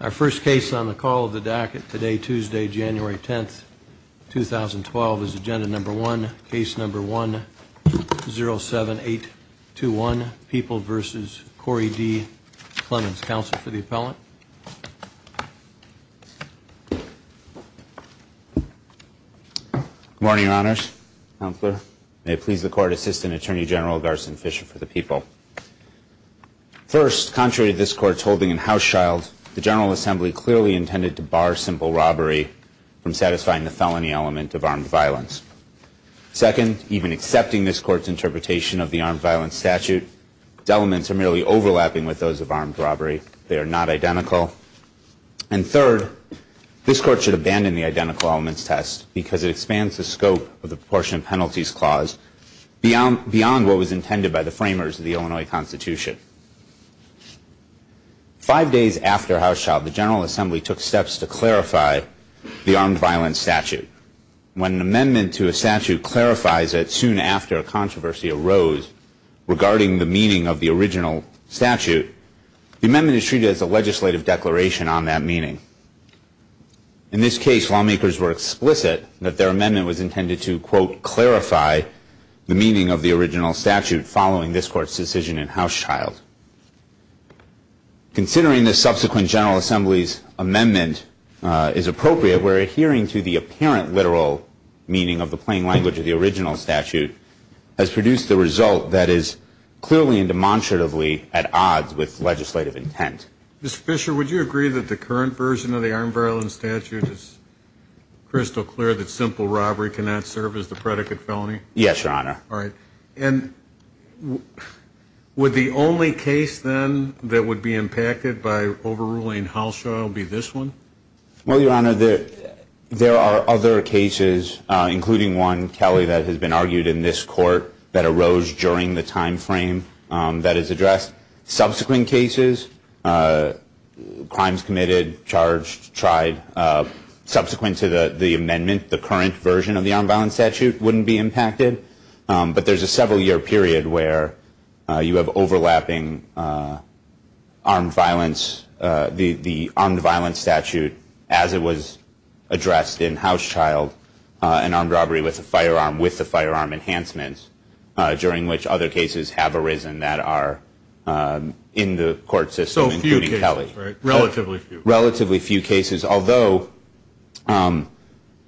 Our first case on the call of the DACA today, Tuesday, January 10th, 2012, is agenda number one, case number 107821, People v. Corey D. Clemons. Counsel for the appellant. Good morning, Your Honors. Counselor. May it please the Court, Assistant Attorney General Garson Fisher for the People. First, contrary to this Court's holding in Houschild, the General Assembly clearly intended to bar simple robbery from satisfying the felony element of armed violence. Second, even accepting this Court's interpretation of the armed violence statute, its elements are merely overlapping with those of armed robbery. They are not identical. And third, this Court should abandon the identical elements test because it expands the scope of the proportionate penalties clause beyond what was intended by the framers of the Illinois Constitution. Five days after Houschild, the General Assembly took steps to clarify the armed violence statute. When an amendment to a statute clarifies that soon after a controversy arose regarding the meaning of the original statute, the amendment is treated as a legislative declaration on that meaning. In this case, lawmakers were explicit that their amendment was intended to, quote, clarify the meaning of the original statute following this Court's decision in Houschild. Considering the subsequent General Assembly's amendment is appropriate, we're adhering to the apparent literal meaning of the plain language of the original statute has produced the result that is clearly and demonstratively at odds with legislative intent. Mr. Fisher, would you agree that the current version of the armed violence statute is crystal clear that simple robbery cannot serve as the predicate felony? Yes, Your Honor. All right. And would the only case then that would be impacted by overruling Houschild be this one? Well, Your Honor, there are other cases, including one, Kelly, that has been argued in this Court that arose during the time frame that is addressed. Subsequent cases, crimes committed, charged, tried, subsequent to the amendment, the current version of the armed violence statute wouldn't be impacted. But there's a several-year period where you have overlapping armed violence, the armed violence statute as it was addressed in Houschild, an armed robbery with a firearm with the firearm enhancements, during which other cases have arisen that are in the court system, including Kelly. So a few cases, right? Relatively few. Relatively few cases. Although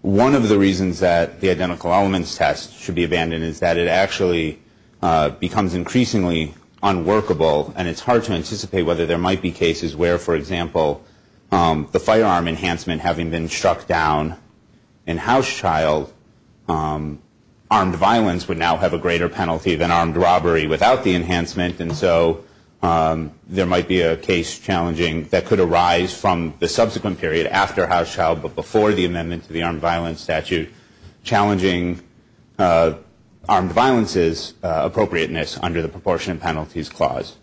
one of the reasons that the identical elements test should be abandoned is that it actually becomes increasingly unworkable, and it's hard to anticipate whether there might be cases where, for example, the firearm enhancement having been struck down in Houschild, armed violence would now have a greater penalty than armed robbery without the enhancement. And so there might be a case challenging that could arise from the subsequent period after Houschild but before the amendment to the armed violence statute, challenging armed violence's appropriateness under the proportionate penalties clause.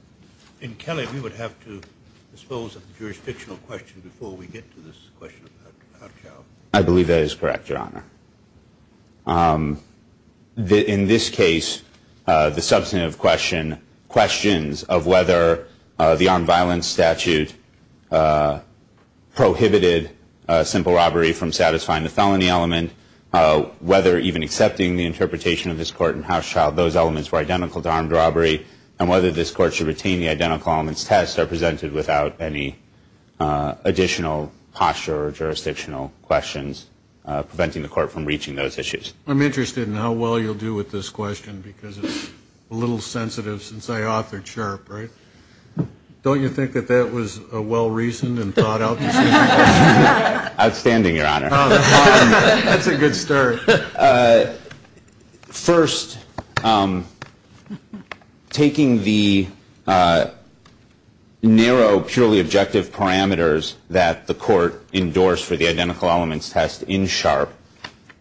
And, Kelly, we would have to dispose of the jurisdictional question before we get to this question about Houschild. I believe that is correct, Your Honor. In this case, the substantive question, questions of whether the armed violence statute prohibited simple robbery from satisfying the felony element, whether even accepting the interpretation of this court in Houschild, those elements were identical to armed robbery, and whether this court should retain the identical elements test are presented without any additional posture or jurisdictional questions preventing the court from reaching those issues. I'm interested in how well you'll do with this question because it's a little sensitive since I authored Sharp, right? Don't you think that that was well-reasoned and thought out? Outstanding, Your Honor. That's a good start. First, taking the narrow, purely objective parameters that the court endorsed for the identical elements test in Sharp,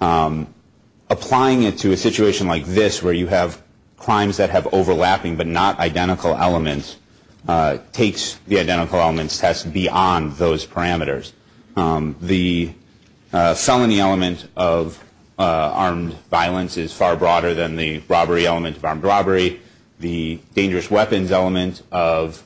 applying it to a situation like this where you have crimes that have overlapping but not identical elements, takes the identical elements test beyond those parameters. The felony element of armed violence is far broader than the robbery element of armed robbery. The dangerous weapons element of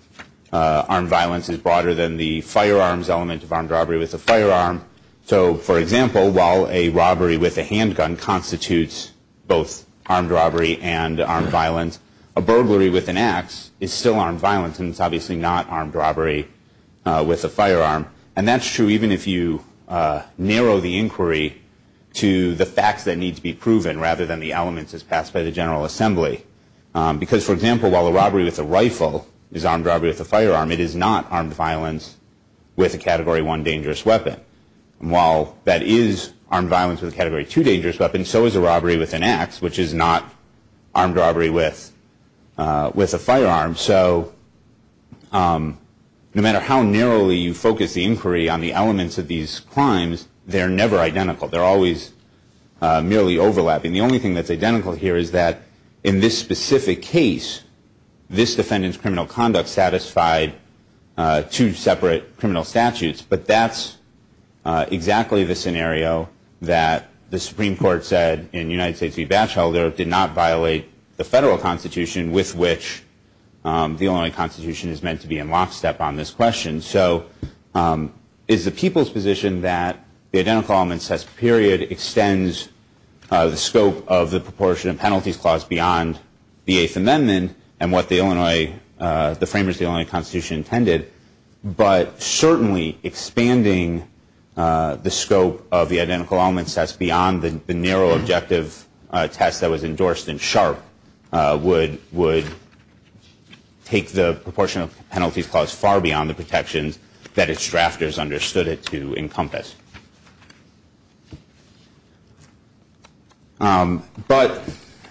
armed violence is broader than the firearms element of armed robbery with a firearm. So, for example, while a robbery with a handgun constitutes both armed robbery and armed violence, a burglary with an ax is still armed violence, and it's obviously not armed robbery with a firearm. And that's true even if you narrow the inquiry to the facts that need to be proven rather than the elements as passed by the General Assembly. Because, for example, while a robbery with a rifle is armed robbery with a firearm, it is not armed violence with a Category 1 dangerous weapon. And while that is armed violence with a Category 2 dangerous weapon, so is a robbery with an ax, which is not armed robbery with a firearm. So no matter how narrowly you focus the inquiry on the elements of these crimes, they're never identical. They're always merely overlapping. The only thing that's identical here is that in this specific case, this defendant's criminal conduct satisfied two separate criminal statutes. But that's exactly the scenario that the Supreme Court said in United States v. Batchelder did not violate the federal Constitution with which the Illinois Constitution is meant to be in lockstep on this question. So it's the people's position that the Identical Elements Test period extends the scope of the Proportion and Penalties Clause beyond the Eighth Amendment and what the framers of the Illinois Constitution intended, but certainly expanding the scope of the Identical Elements Test beyond the narrow objective test that was endorsed in Sharp, would take the Proportion and Penalties Clause far beyond the protections that its drafters understood it to encompass. But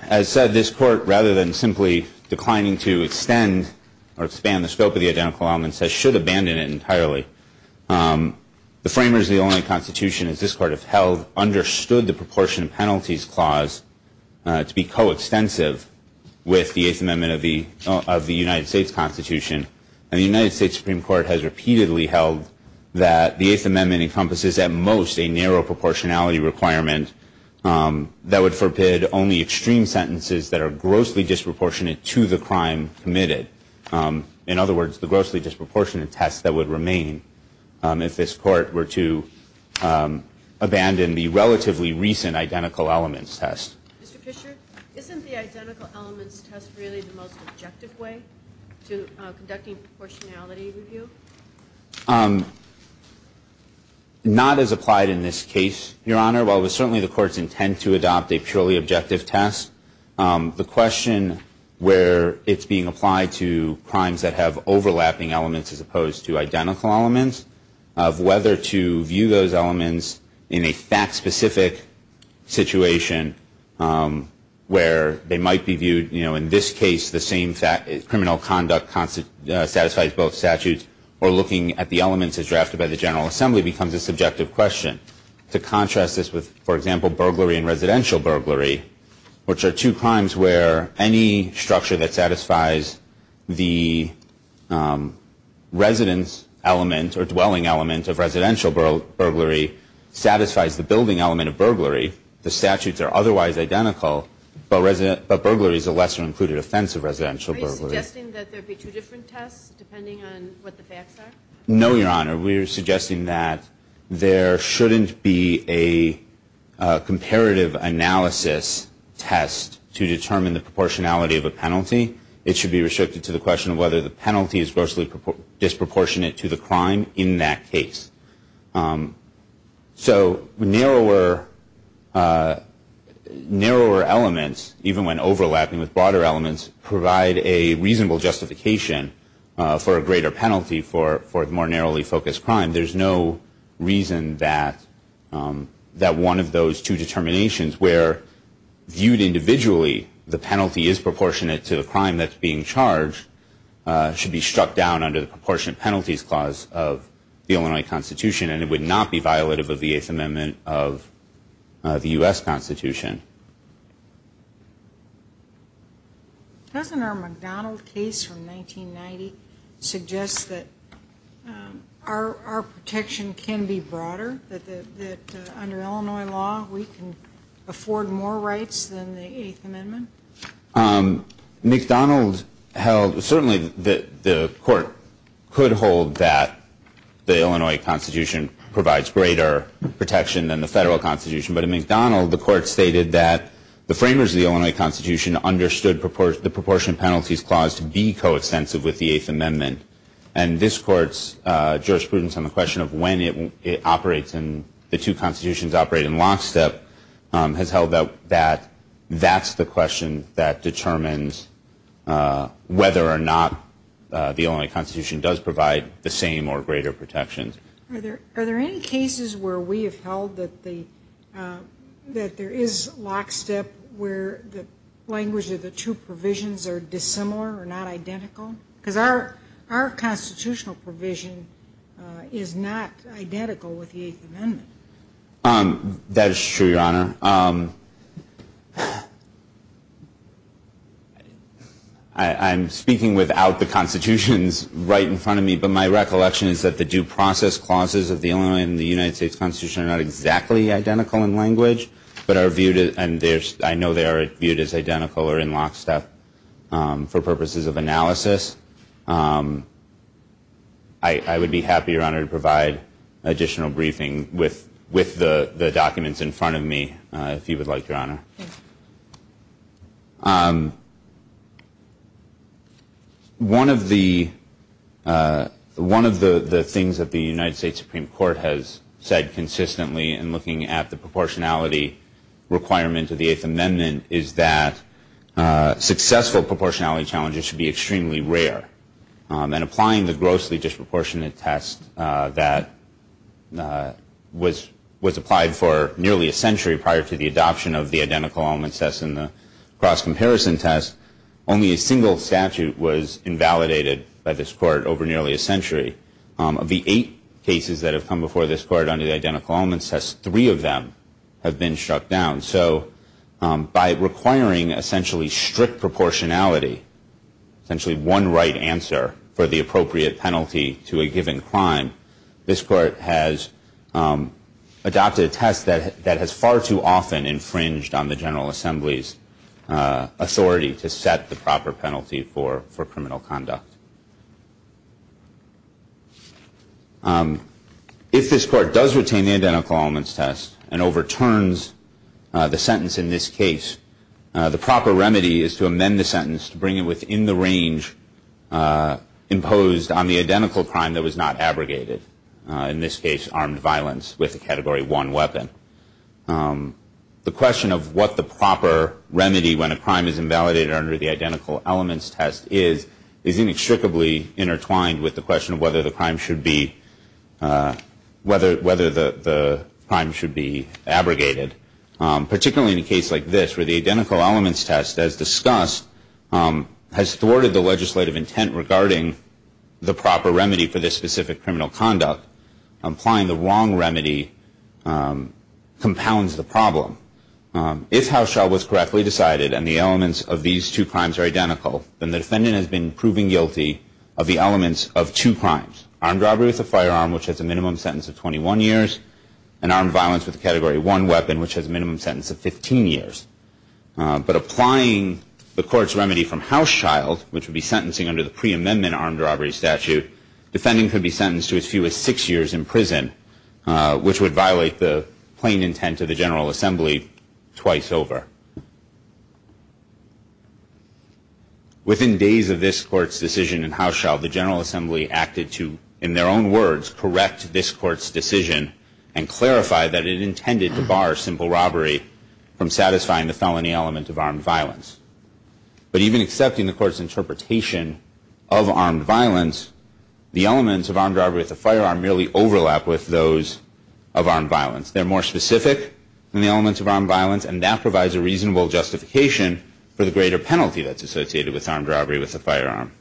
as said, this Court, rather than simply declining to extend or expand the scope of the Identical Elements Test, should abandon it entirely. The framers of the Illinois Constitution, as this Court has held, understood the Proportion and Penalties Clause to be coextensive with the Eighth Amendment of the United States Constitution. And the United States Supreme Court has repeatedly held that the Eighth Amendment encompasses at most a narrow proportionality requirement that would forbid only extreme sentences that are grossly disproportionate to the crime committed. In other words, the grossly disproportionate test that would remain if this Court were to abandon the relatively recent Identical Elements Test. Mr. Fisher, isn't the Identical Elements Test really the most objective way to conducting proportionality review? Not as applied in this case, Your Honor. While it was certainly the Court's intent to adopt a purely objective test, the question where it's being applied to crimes that have overlapping elements as opposed to identical elements, of whether to view those elements in a fact-specific situation where they might be viewed, you know, in this case the same criminal conduct satisfies both statutes, or looking at the elements as drafted by the General Assembly, becomes a subjective question. To contrast this with, for example, burglary and residential burglary, which are two crimes where any structure that satisfies the residence element or dwelling element of residential burglary satisfies the building element of burglary. The statutes are otherwise identical, but burglary is a lesser-included offense of residential burglary. Are you suggesting that there be two different tests, depending on what the facts are? No, Your Honor. We are suggesting that there shouldn't be a comparative analysis test to determine the proportionality of a penalty. It should be restricted to the question of whether the penalty is grossly disproportionate to the crime in that case. So narrower elements, even when overlapping with broader elements, provide a reasonable justification for a greater penalty for the more narrowly focused crime. There's no reason that one of those two determinations, where viewed individually the penalty is proportionate to the crime that's being charged, should be struck down under the proportionate penalties clause of the Illinois Constitution, and it would not be violative of the Eighth Amendment of the U.S. Constitution. Doesn't our McDonald case from 1990 suggest that our protection can be broader, that under Illinois law we can afford more rights than the Eighth Amendment? McDonald held, certainly the Court could hold that the Illinois Constitution provides greater protection than the Federal Constitution, but in McDonald the Court stated that the framers of the Illinois Constitution understood the proportionate penalties clause to be coextensive with the Eighth Amendment, and this Court's jurisprudence on the question of when it operates and the two constitutions operate in lockstep has held that that's the question that determines whether or not the Illinois Constitution does provide the same or greater protection. Are there any cases where we have held that there is lockstep, where the language of the two provisions are dissimilar or not identical? Because our constitutional provision is not identical with the Eighth Amendment. That is true, Your Honor. I'm speaking without the constitutions right in front of me, but my recollection is that the due process clauses of the Illinois and the United States Constitution are not exactly identical in language, but I know they are viewed as identical or in lockstep for purposes of analysis. I would be happy, Your Honor, to provide additional briefing with the documents in front of me, if you would like, Your Honor. One of the things that the United States Supreme Court has said consistently in looking at the proportionality requirement of the Eighth Amendment is that successful proportionality challenges should be extremely rare. And applying the grossly disproportionate test that was applied for nearly a century prior to the adoption of the identical element test and the cross-comparison test, only a single statute was invalidated by this court over nearly a century. Of the eight cases that have come before this court under the identical element test, three of them have been struck down. And so by requiring essentially strict proportionality, essentially one right answer for the appropriate penalty to a given crime, this court has adopted a test that has far too often infringed on the General Assembly's authority to set the proper penalty for criminal conduct. If this court does retain the identical elements test and overturns the sentence in this case, the proper remedy is to amend the sentence to bring it within the range imposed on the identical crime that was not abrogated, in this case armed violence with a Category 1 weapon. The question of what the proper remedy when a crime is invalidated under the identical elements test is inextricably intertwined with the question of whether the crime should be abrogated, particularly in a case like this where the identical elements test, as discussed, has thwarted the legislative intent regarding the proper remedy for this specific criminal conduct. Applying the wrong remedy compounds the problem. If Hauschild was correctly decided and the elements of these two crimes are identical, then the defendant has been proven guilty of the elements of two crimes, armed robbery with a firearm, which has a minimum sentence of 21 years, and armed violence with a Category 1 weapon, which has a minimum sentence of 15 years. But applying the court's remedy from Hauschild, which would be sentencing under the pre-amendment armed robbery statute, the defendant could be sentenced to as few as six years in prison, which would violate the plain intent of the General Assembly twice over. Within days of this court's decision in Hauschild, the General Assembly acted to, in their own words, correct this court's decision and clarify that it intended to bar simple robbery from satisfying the felony element of armed violence. But even accepting the court's interpretation of armed violence, the elements of armed robbery with a firearm merely overlap with those of armed violence. They're more specific than the elements of armed violence and that provides a reasonable justification for the greater penalty that's associated with armed robbery with a firearm.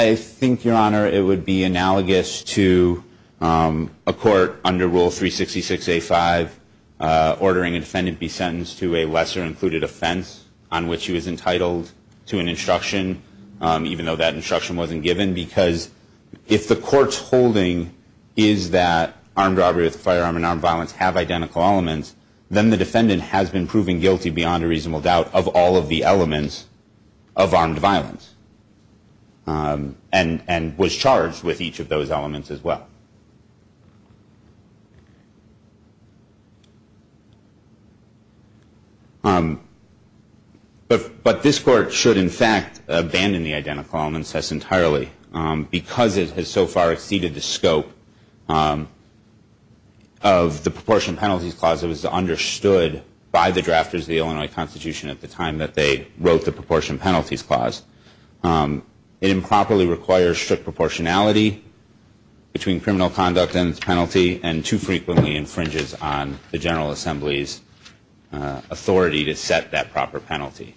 I think, Your Honor, it would be analogous to a court under Rule 366A5 ordering a defendant be sentenced to a lesser included offense on which he was entitled to an instruction, even though that instruction wasn't given, because if the court's holding is that armed robbery with a firearm and armed violence have identical elements, then the defendant has been proven guilty beyond a reasonable doubt of all of the elements of armed violence and was charged with each of those elements as well. But this court should, in fact, abandon the identical element test entirely, because it has so far exceeded the scope of the Proportion Penalties Clause that was understood by the drafters of the Illinois Constitution at the time that they wrote the Proportion Penalties Clause. It improperly requires strict proportionality between criminal conduct and its penalty, and too frequently infringes on the General Assembly's authority to set that proper penalty.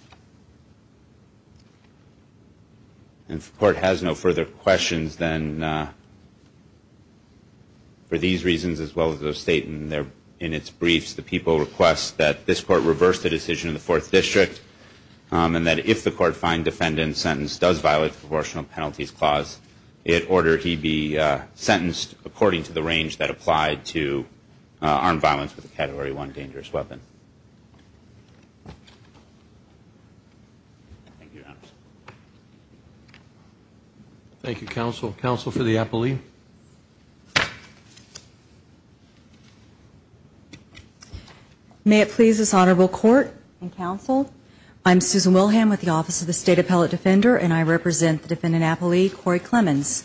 And if the court has no further questions, then for these reasons as well as those stated in its briefs, the people request that this court reverse the decision in the Fourth District, and that if the court finds defendant's sentence does violate the Proportional Penalties Clause, it order he be sentenced according to the range that applied to armed violence with a Category 1 dangerous weapon. Thank you, counsel. Counsel for the appellee. May it please this honorable court and counsel, I'm Susan Wilhelm with the Office of the State Appellate Defender, and I represent the defendant appellee, Corey Clemons.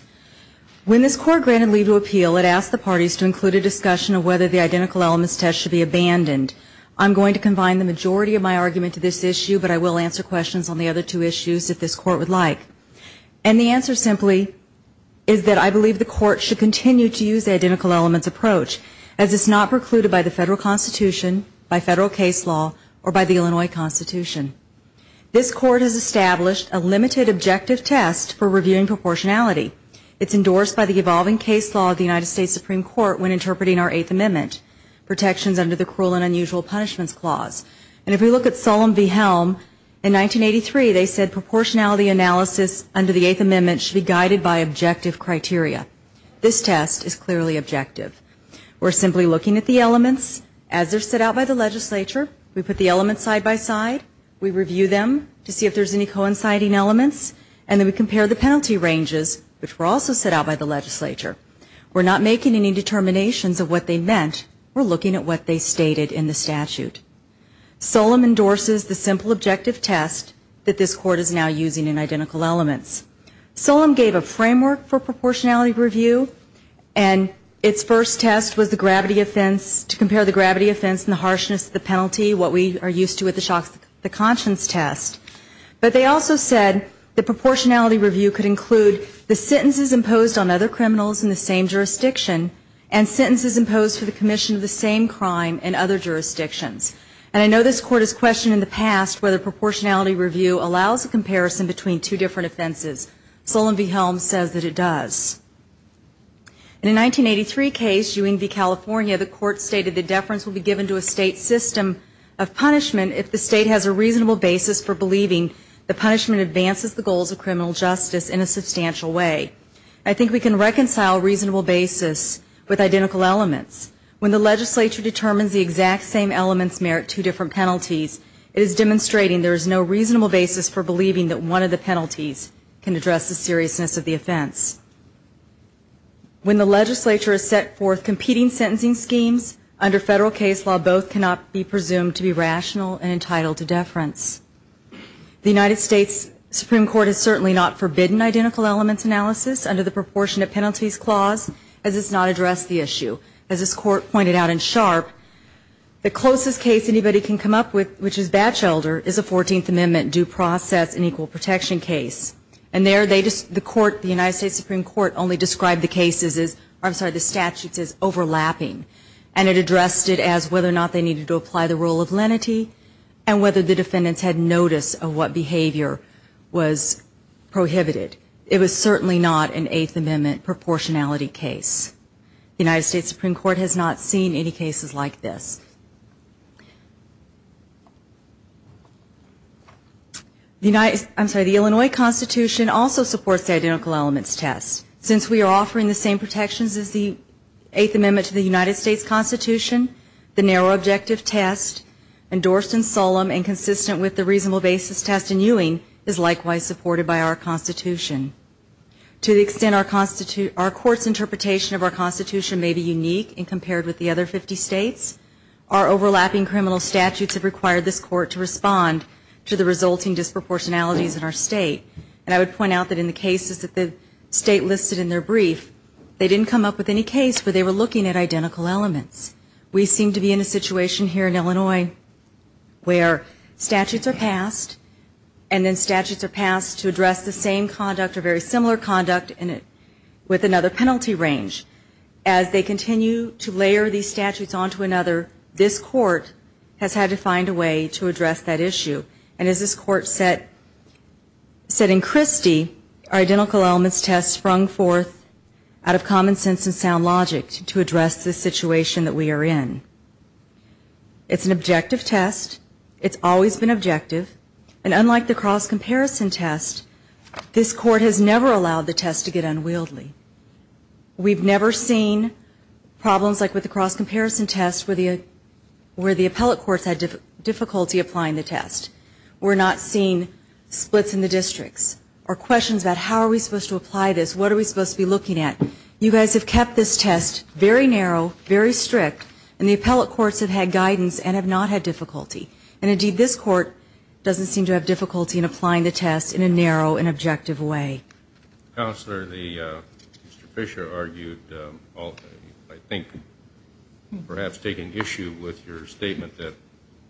When this court granted leave to appeal, it asked the parties to include a discussion of whether the identical elements test should be abandoned. I'm going to combine the majority of my argument to this issue, but I will answer questions on the other two issues if this court would like. And the answer simply is that I believe the court should continue to use the identical elements approach, as it's not precluded by the Federal Constitution, by Federal case law, or by the Illinois Constitution. This court has established a limited objective test for reviewing proportionality. It's endorsed by the evolving case law of the United States Supreme Court when interpreting our Eighth Amendment, protections under the Cruel and Unusual Punishments Clause. And if we look at Solem v. Helm, in 1983 they said proportionality analysis under the Eighth Amendment should be guided by objective criteria. This test is clearly objective. We're simply looking at the elements as they're set out by the legislature. We put the elements side by side, we review them to see if there's any coinciding elements, and then we compare the penalty ranges, which were also set out by the legislature. We're not making any determinations of what they meant, we're looking at what they stated in the statute. Solem endorses the simple objective test that this court is now using in identical elements. Solem gave a framework for proportionality review, and its first test was the gravity offense, to compare the gravity offense and the harshness of the penalty, what we are used to with the shock's the conscience test. But they also said that proportionality review could include the sentences imposed on other criminals in the same jurisdiction, and sentences imposed for the commission of the same crime in other jurisdictions. And I know this court has questioned in the past whether proportionality review allows a comparison between two different offenses. Solem v. Helm says that it does. In a 1983 case, Ewing v. California, the court stated that deference will be given to a state system of punishment if the state has a reasonable basis for believing the punishment advances the goals of criminal justice in a substantial way. I think we can reconcile reasonable basis with identical elements. When the legislature determines the exact same elements merit two different penalties, it is demonstrating there is no reasonable basis for believing that one of the penalties can address the seriousness of the offense. When the legislature has set forth competing sentencing schemes under federal case law, both cannot be presumed to be rational and entitled to deference. The United States Supreme Court has certainly not forbidden identical elements analysis under the proportionate penalties clause, as it's not addressed the issue. As this court pointed out in Sharp, the closest case anybody can come up with, which is Batchelder, is a 14th Amendment due process and equal protection case. And there they just, the court, the United States Supreme Court only described the cases as, I'm sorry, the statutes as overlapping. And it addressed it as whether or not they needed to apply the rule of lenity and whether the defendants had notice of what behavior was prohibited. It was certainly not an Eighth Amendment proportionality case. The United States Supreme Court has not seen any cases like this. The United, I'm sorry, the Illinois Constitution also supports the identical elements test. Since we are offering the same protections as the Eighth Amendment to the United States Constitution, the narrow objective test, endorsed and solemn and consistent with the reasonable basis test in Ewing, is likewise supported by our Constitution. To the extent our court's interpretation of our Constitution may be unique and compared with the other 50 states, our overlapping criminal statutes have required this court to respond to the resulting disproportionalities in our state. And I would point out that in the cases that the state listed in their brief, they didn't come up with any case where they were looking at identical elements. We seem to be in a situation here in Illinois where statutes are passed, and then statutes are passed to address the same conduct or very similar conduct with another penalty range. As they continue to layer these statutes onto another, this court has had to find a way to address that issue. And as this court said in Christie, our identical elements test sprung forth out of common sense and sound logic to address the situation that we are in. It's an objective test. It's always been objective. And unlike the cross-comparison test, this court has never allowed the test to get unwieldy. We've never seen problems like with the cross-comparison test where the appellate courts had difficulty applying the test. We're not seeing splits in the districts or questions about how are we supposed to apply this, what are we supposed to be looking at. You guys have kept this test very narrow, very strict, and the appellate courts have had guidance and have not had difficulty. And indeed, this court doesn't seem to have difficulty in applying the test in a narrow and objective way. Counselor, Mr. Fisher argued, I think perhaps taking issue with your statement that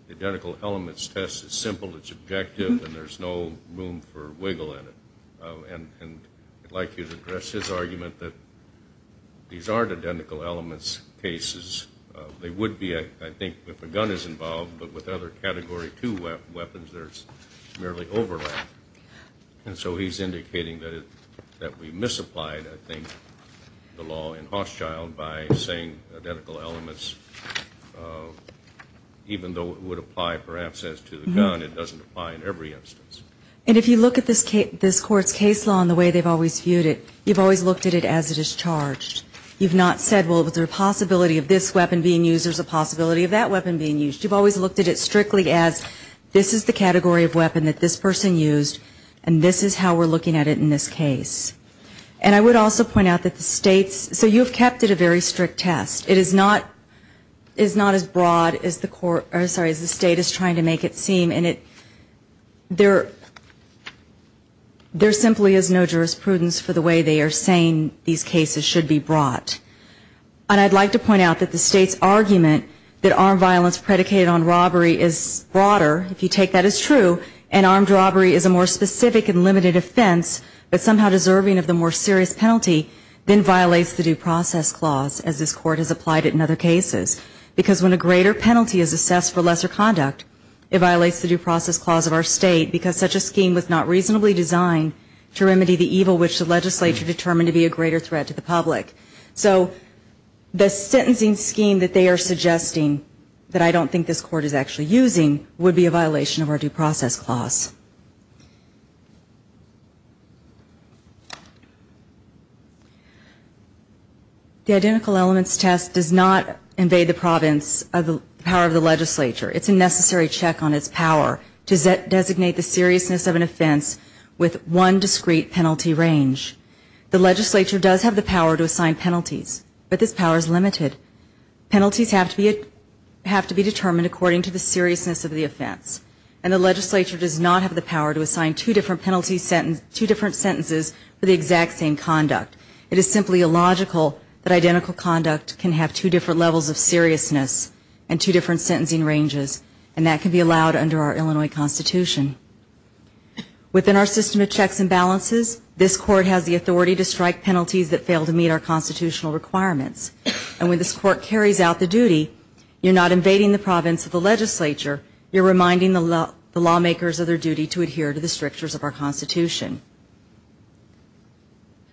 the identical elements test is simple, it's objective, and there's no room for wiggle in it. And I'd like you to address his argument that these aren't identical elements cases. They would be, I think, if a gun is involved, but with other Category 2 weapons there's merely overlap. And so he's indicating that we misapplied, I think, the law in Hosschild by saying identical elements, even though it would apply perhaps as to the gun, it doesn't apply in every instance. And if you look at this court's case law and the way they've always viewed it, you've always looked at it as it is charged. You've not said, well, is there a possibility of this weapon being used, there's a possibility of that weapon being used. You've always looked at it strictly as this is the category of weapon that this person used, and this is how we're looking at it in this case. And I would also point out that the state's, so you've kept it a very strict test. It is not as broad as the state is trying to make it seem. There simply is no jurisprudence for the way they are saying these cases should be brought. And I'd like to point out that the state's argument that armed violence predicated on robbery is broader, if you take that as true, and armed robbery is a more specific and limited offense, but somehow deserving of the more serious penalty, then violates the due process clause, as this court has applied it in other cases. Because when a greater penalty is assessed for lesser conduct, it violates the due process clause of our state, because such a scheme was not reasonably designed to remedy the evil which the legislature determined to be a greater threat to the public. So the sentencing scheme that they are suggesting, that I don't think this court is actually using, would be a violation of our due process clause. The identical elements test does not invade the province of the power of the legislature. It's a necessary check on its power to designate the seriousness of an offense with one discrete penalty range. The legislature does have the power to assign penalties, but this power is limited. Penalties have to be determined according to the seriousness of the offense, and the legislature does not have the power to assign two different sentences for the exact same conduct. It is simply illogical that identical conduct can have two different levels of seriousness and two different sentencing ranges, and that can be allowed under our Illinois Constitution. Within our system of checks and balances, this court has the authority to strike penalties that fail to meet our constitutional requirements. And when this court carries out the duty, you're not invading the province of the legislature, you're reminding the lawmakers of their duty to adhere to the strictures of our Constitution.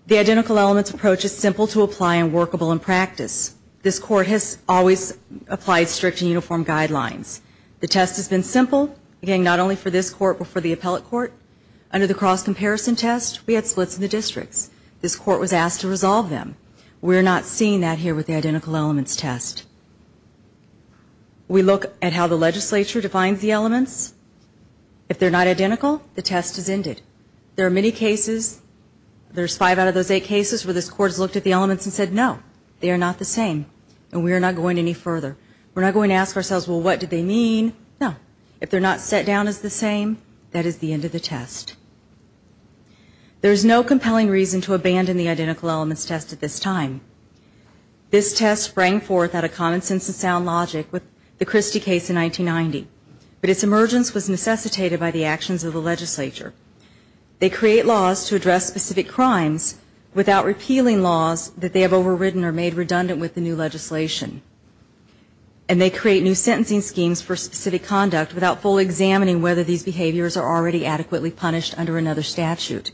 The identical elements approach is simple to apply and workable in practice. This court has always applied strict and uniform guidelines. The test has been simple, again, not only for this court but for the appellate court. Under the cross-comparison test, we had splits in the districts. This court was asked to resolve them. We're not seeing that here with the identical elements test. We look at how the legislature defines the elements. If they're not identical, the test is ended. There are many cases, there's five out of those eight cases where this court has looked at the elements and said, no, they are not the same, and we are not going any further. We're not going to ask ourselves, well, what did they mean? No. If they're not set down as the same, that is the end of the test. There is no compelling reason to abandon the identical elements test at this time. This test sprang forth out of common sense and sound logic with the Christie case in 1990. But its emergence was necessitated by the actions of the legislature. They create laws to address specific crimes without repealing laws that they have overridden or made redundant with the new legislation. And they create new sentencing schemes for specific conduct without fully examining whether these behaviors are already adequately punished under another statute.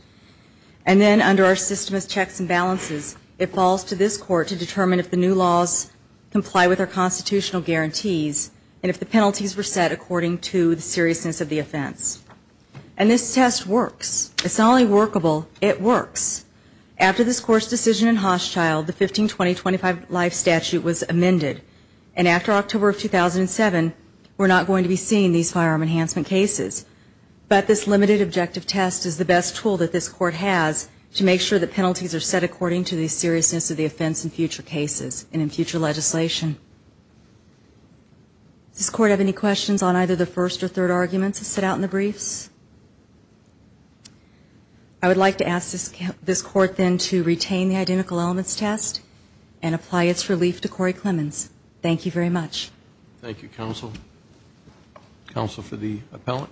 And then under our system of checks and balances, it falls to this court to determine if the new laws comply with our constitutional guarantees, and if the penalties were set according to the seriousness of the offense. And this test works. It's not only workable, it works. We're not going to be seeing these firearm enhancement cases, but this limited objective test is the best tool that this Court has to make sure that penalties are set according to the seriousness of the offense in future cases and in future legislation. Does this Court have any questions on either the first or third arguments set out in the briefs? I would like to ask this Court, then, to retain the identical elements test and apply its relief to Corey Clemons. Thank you very much. Thank you, Counsel. Counsel for the appellant?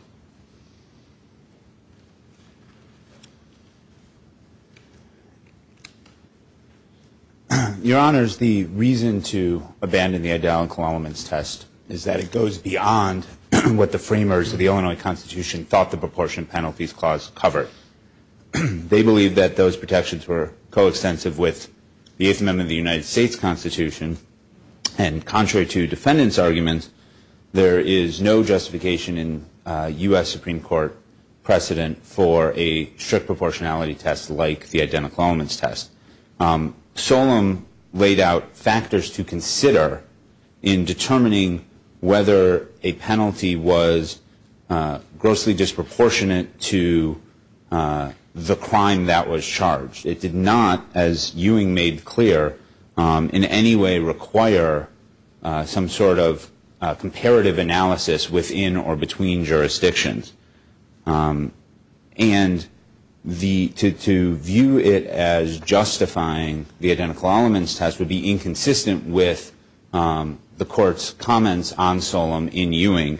Your Honors, the reason to abandon the identical elements test is that it goes beyond what the framers of the Illinois Constitution thought the proportion penalties clause covered. They believed that those protections were coextensive with the Eighth Amendment of the United States Constitution. And contrary to defendants' arguments, there is no justification in U.S. Supreme Court precedent for a strict proportionality test like the identical elements test. Solem laid out factors to consider in determining whether a penalty was grossly disproportionate to the original penalty. The court did not, as Ewing made clear, in any way require some sort of comparative analysis within or between jurisdictions. And to view it as justifying the identical elements test would be inconsistent with the Court's comments on Solem in Ewing,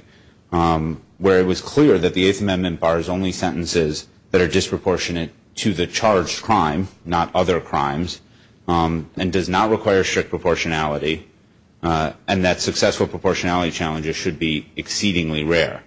where it was clear that the Eighth Amendment bars only sentences that are disproportionate to the original penalty. That is, sentences that are disproportionate to the charged crime, not other crimes, and does not require strict proportionality, and that successful proportionality challenges should be exceedingly rare.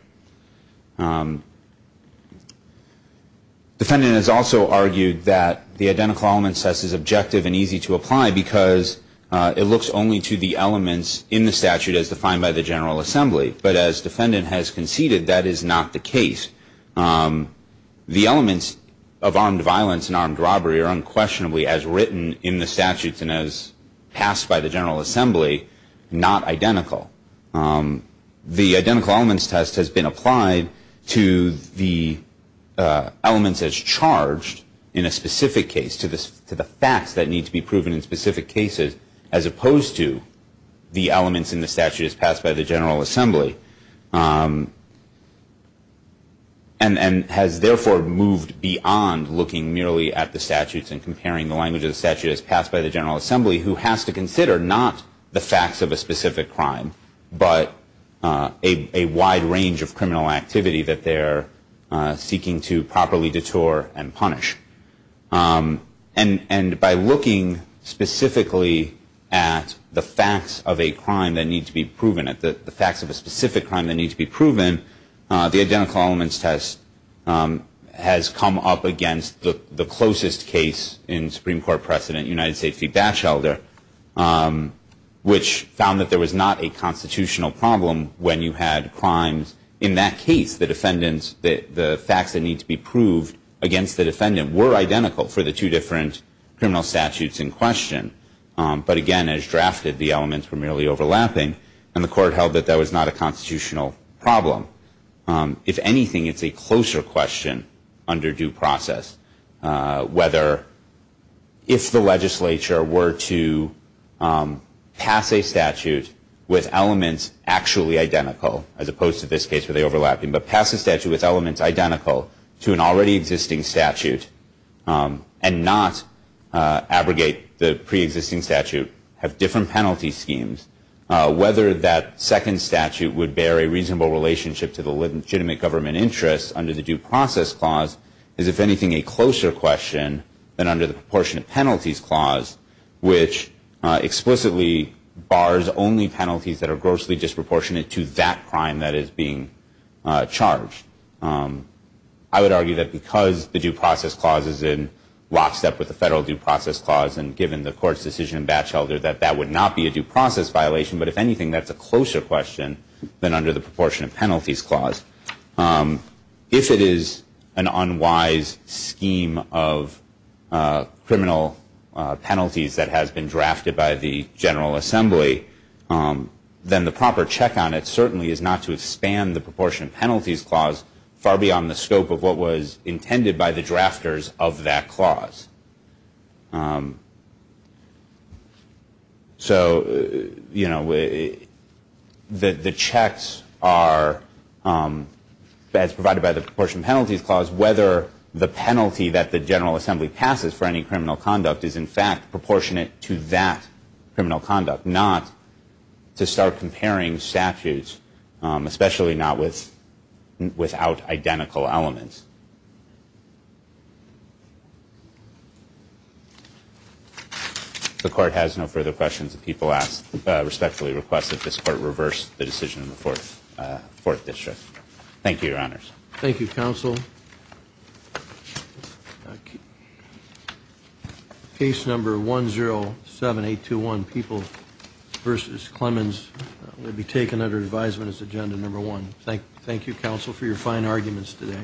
Defendant has also argued that the identical elements test is objective and easy to apply because it looks only to the elements in the statute as defined by the General Assembly. But as defendant has conceded, that is not the case. The elements of armed violence and armed robbery are unquestionably, as written in the statutes and as passed by the General Assembly, not identical. The identical elements test has been applied to the elements as charged in a specific case, to the facts that need to be proven in specific cases, as opposed to the elements in the statute as passed by the General Assembly. And has therefore moved beyond looking merely at the statutes and comparing the language of the statute as passed by the General Assembly, who has to consider not the facts of a specific crime, but a wide range of criminal activity that they are seeking to properly detour and punish. And by looking specifically at the facts of a crime that need to be proven, the facts of a specific crime that need to be proven, the identical elements test has come up against the closest case in Supreme Court precedent, United States v. Batchelder, which found that there was not a constitutional problem when you had crimes in that case. The facts that need to be proved against the defendant were identical for the two different criminal statutes in question. But again, as drafted, the elements were merely overlapping, and the court held that that was not a constitutional problem. If anything, it's a closer question under due process. Whether if the legislature were to pass a statute with elements actually identical, as opposed to this case where they overlap, but pass a statute with elements actually identical, to an already existing statute and not abrogate the preexisting statute, have different penalty schemes, whether that second statute would bear a reasonable relationship to the legitimate government interest under the due process clause, is, if anything, a closer question than under the proportionate penalties clause, which explicitly bars only penalties that are grossly disproportionate to that crime that is being charged. I would argue that because the due process clause is in lockstep with the federal due process clause, and given the court's decision in Batchelder, that that would not be a due process violation. But if anything, that's a closer question than under the proportionate penalties clause. If it is an unwise scheme of criminal penalties that has been drafted by the General Assembly, then the proper check on it certainly is not to expand the proportionate penalties clause. Far beyond the scope of what was intended by the drafters of that clause. So, you know, the checks are, as provided by the proportionate penalties clause, whether the penalty that the General Assembly passes for any criminal conduct is, in fact, proportionate to that criminal conduct. But not to start comparing statutes, especially not without identical elements. The court has no further questions if people respectfully request that this court reverse the decision of the Fourth District. Thank you, counsel. Case number 107821, People v. Clemens, will be taken under advisement as agenda number one. Thank you, counsel, for your fine arguments today.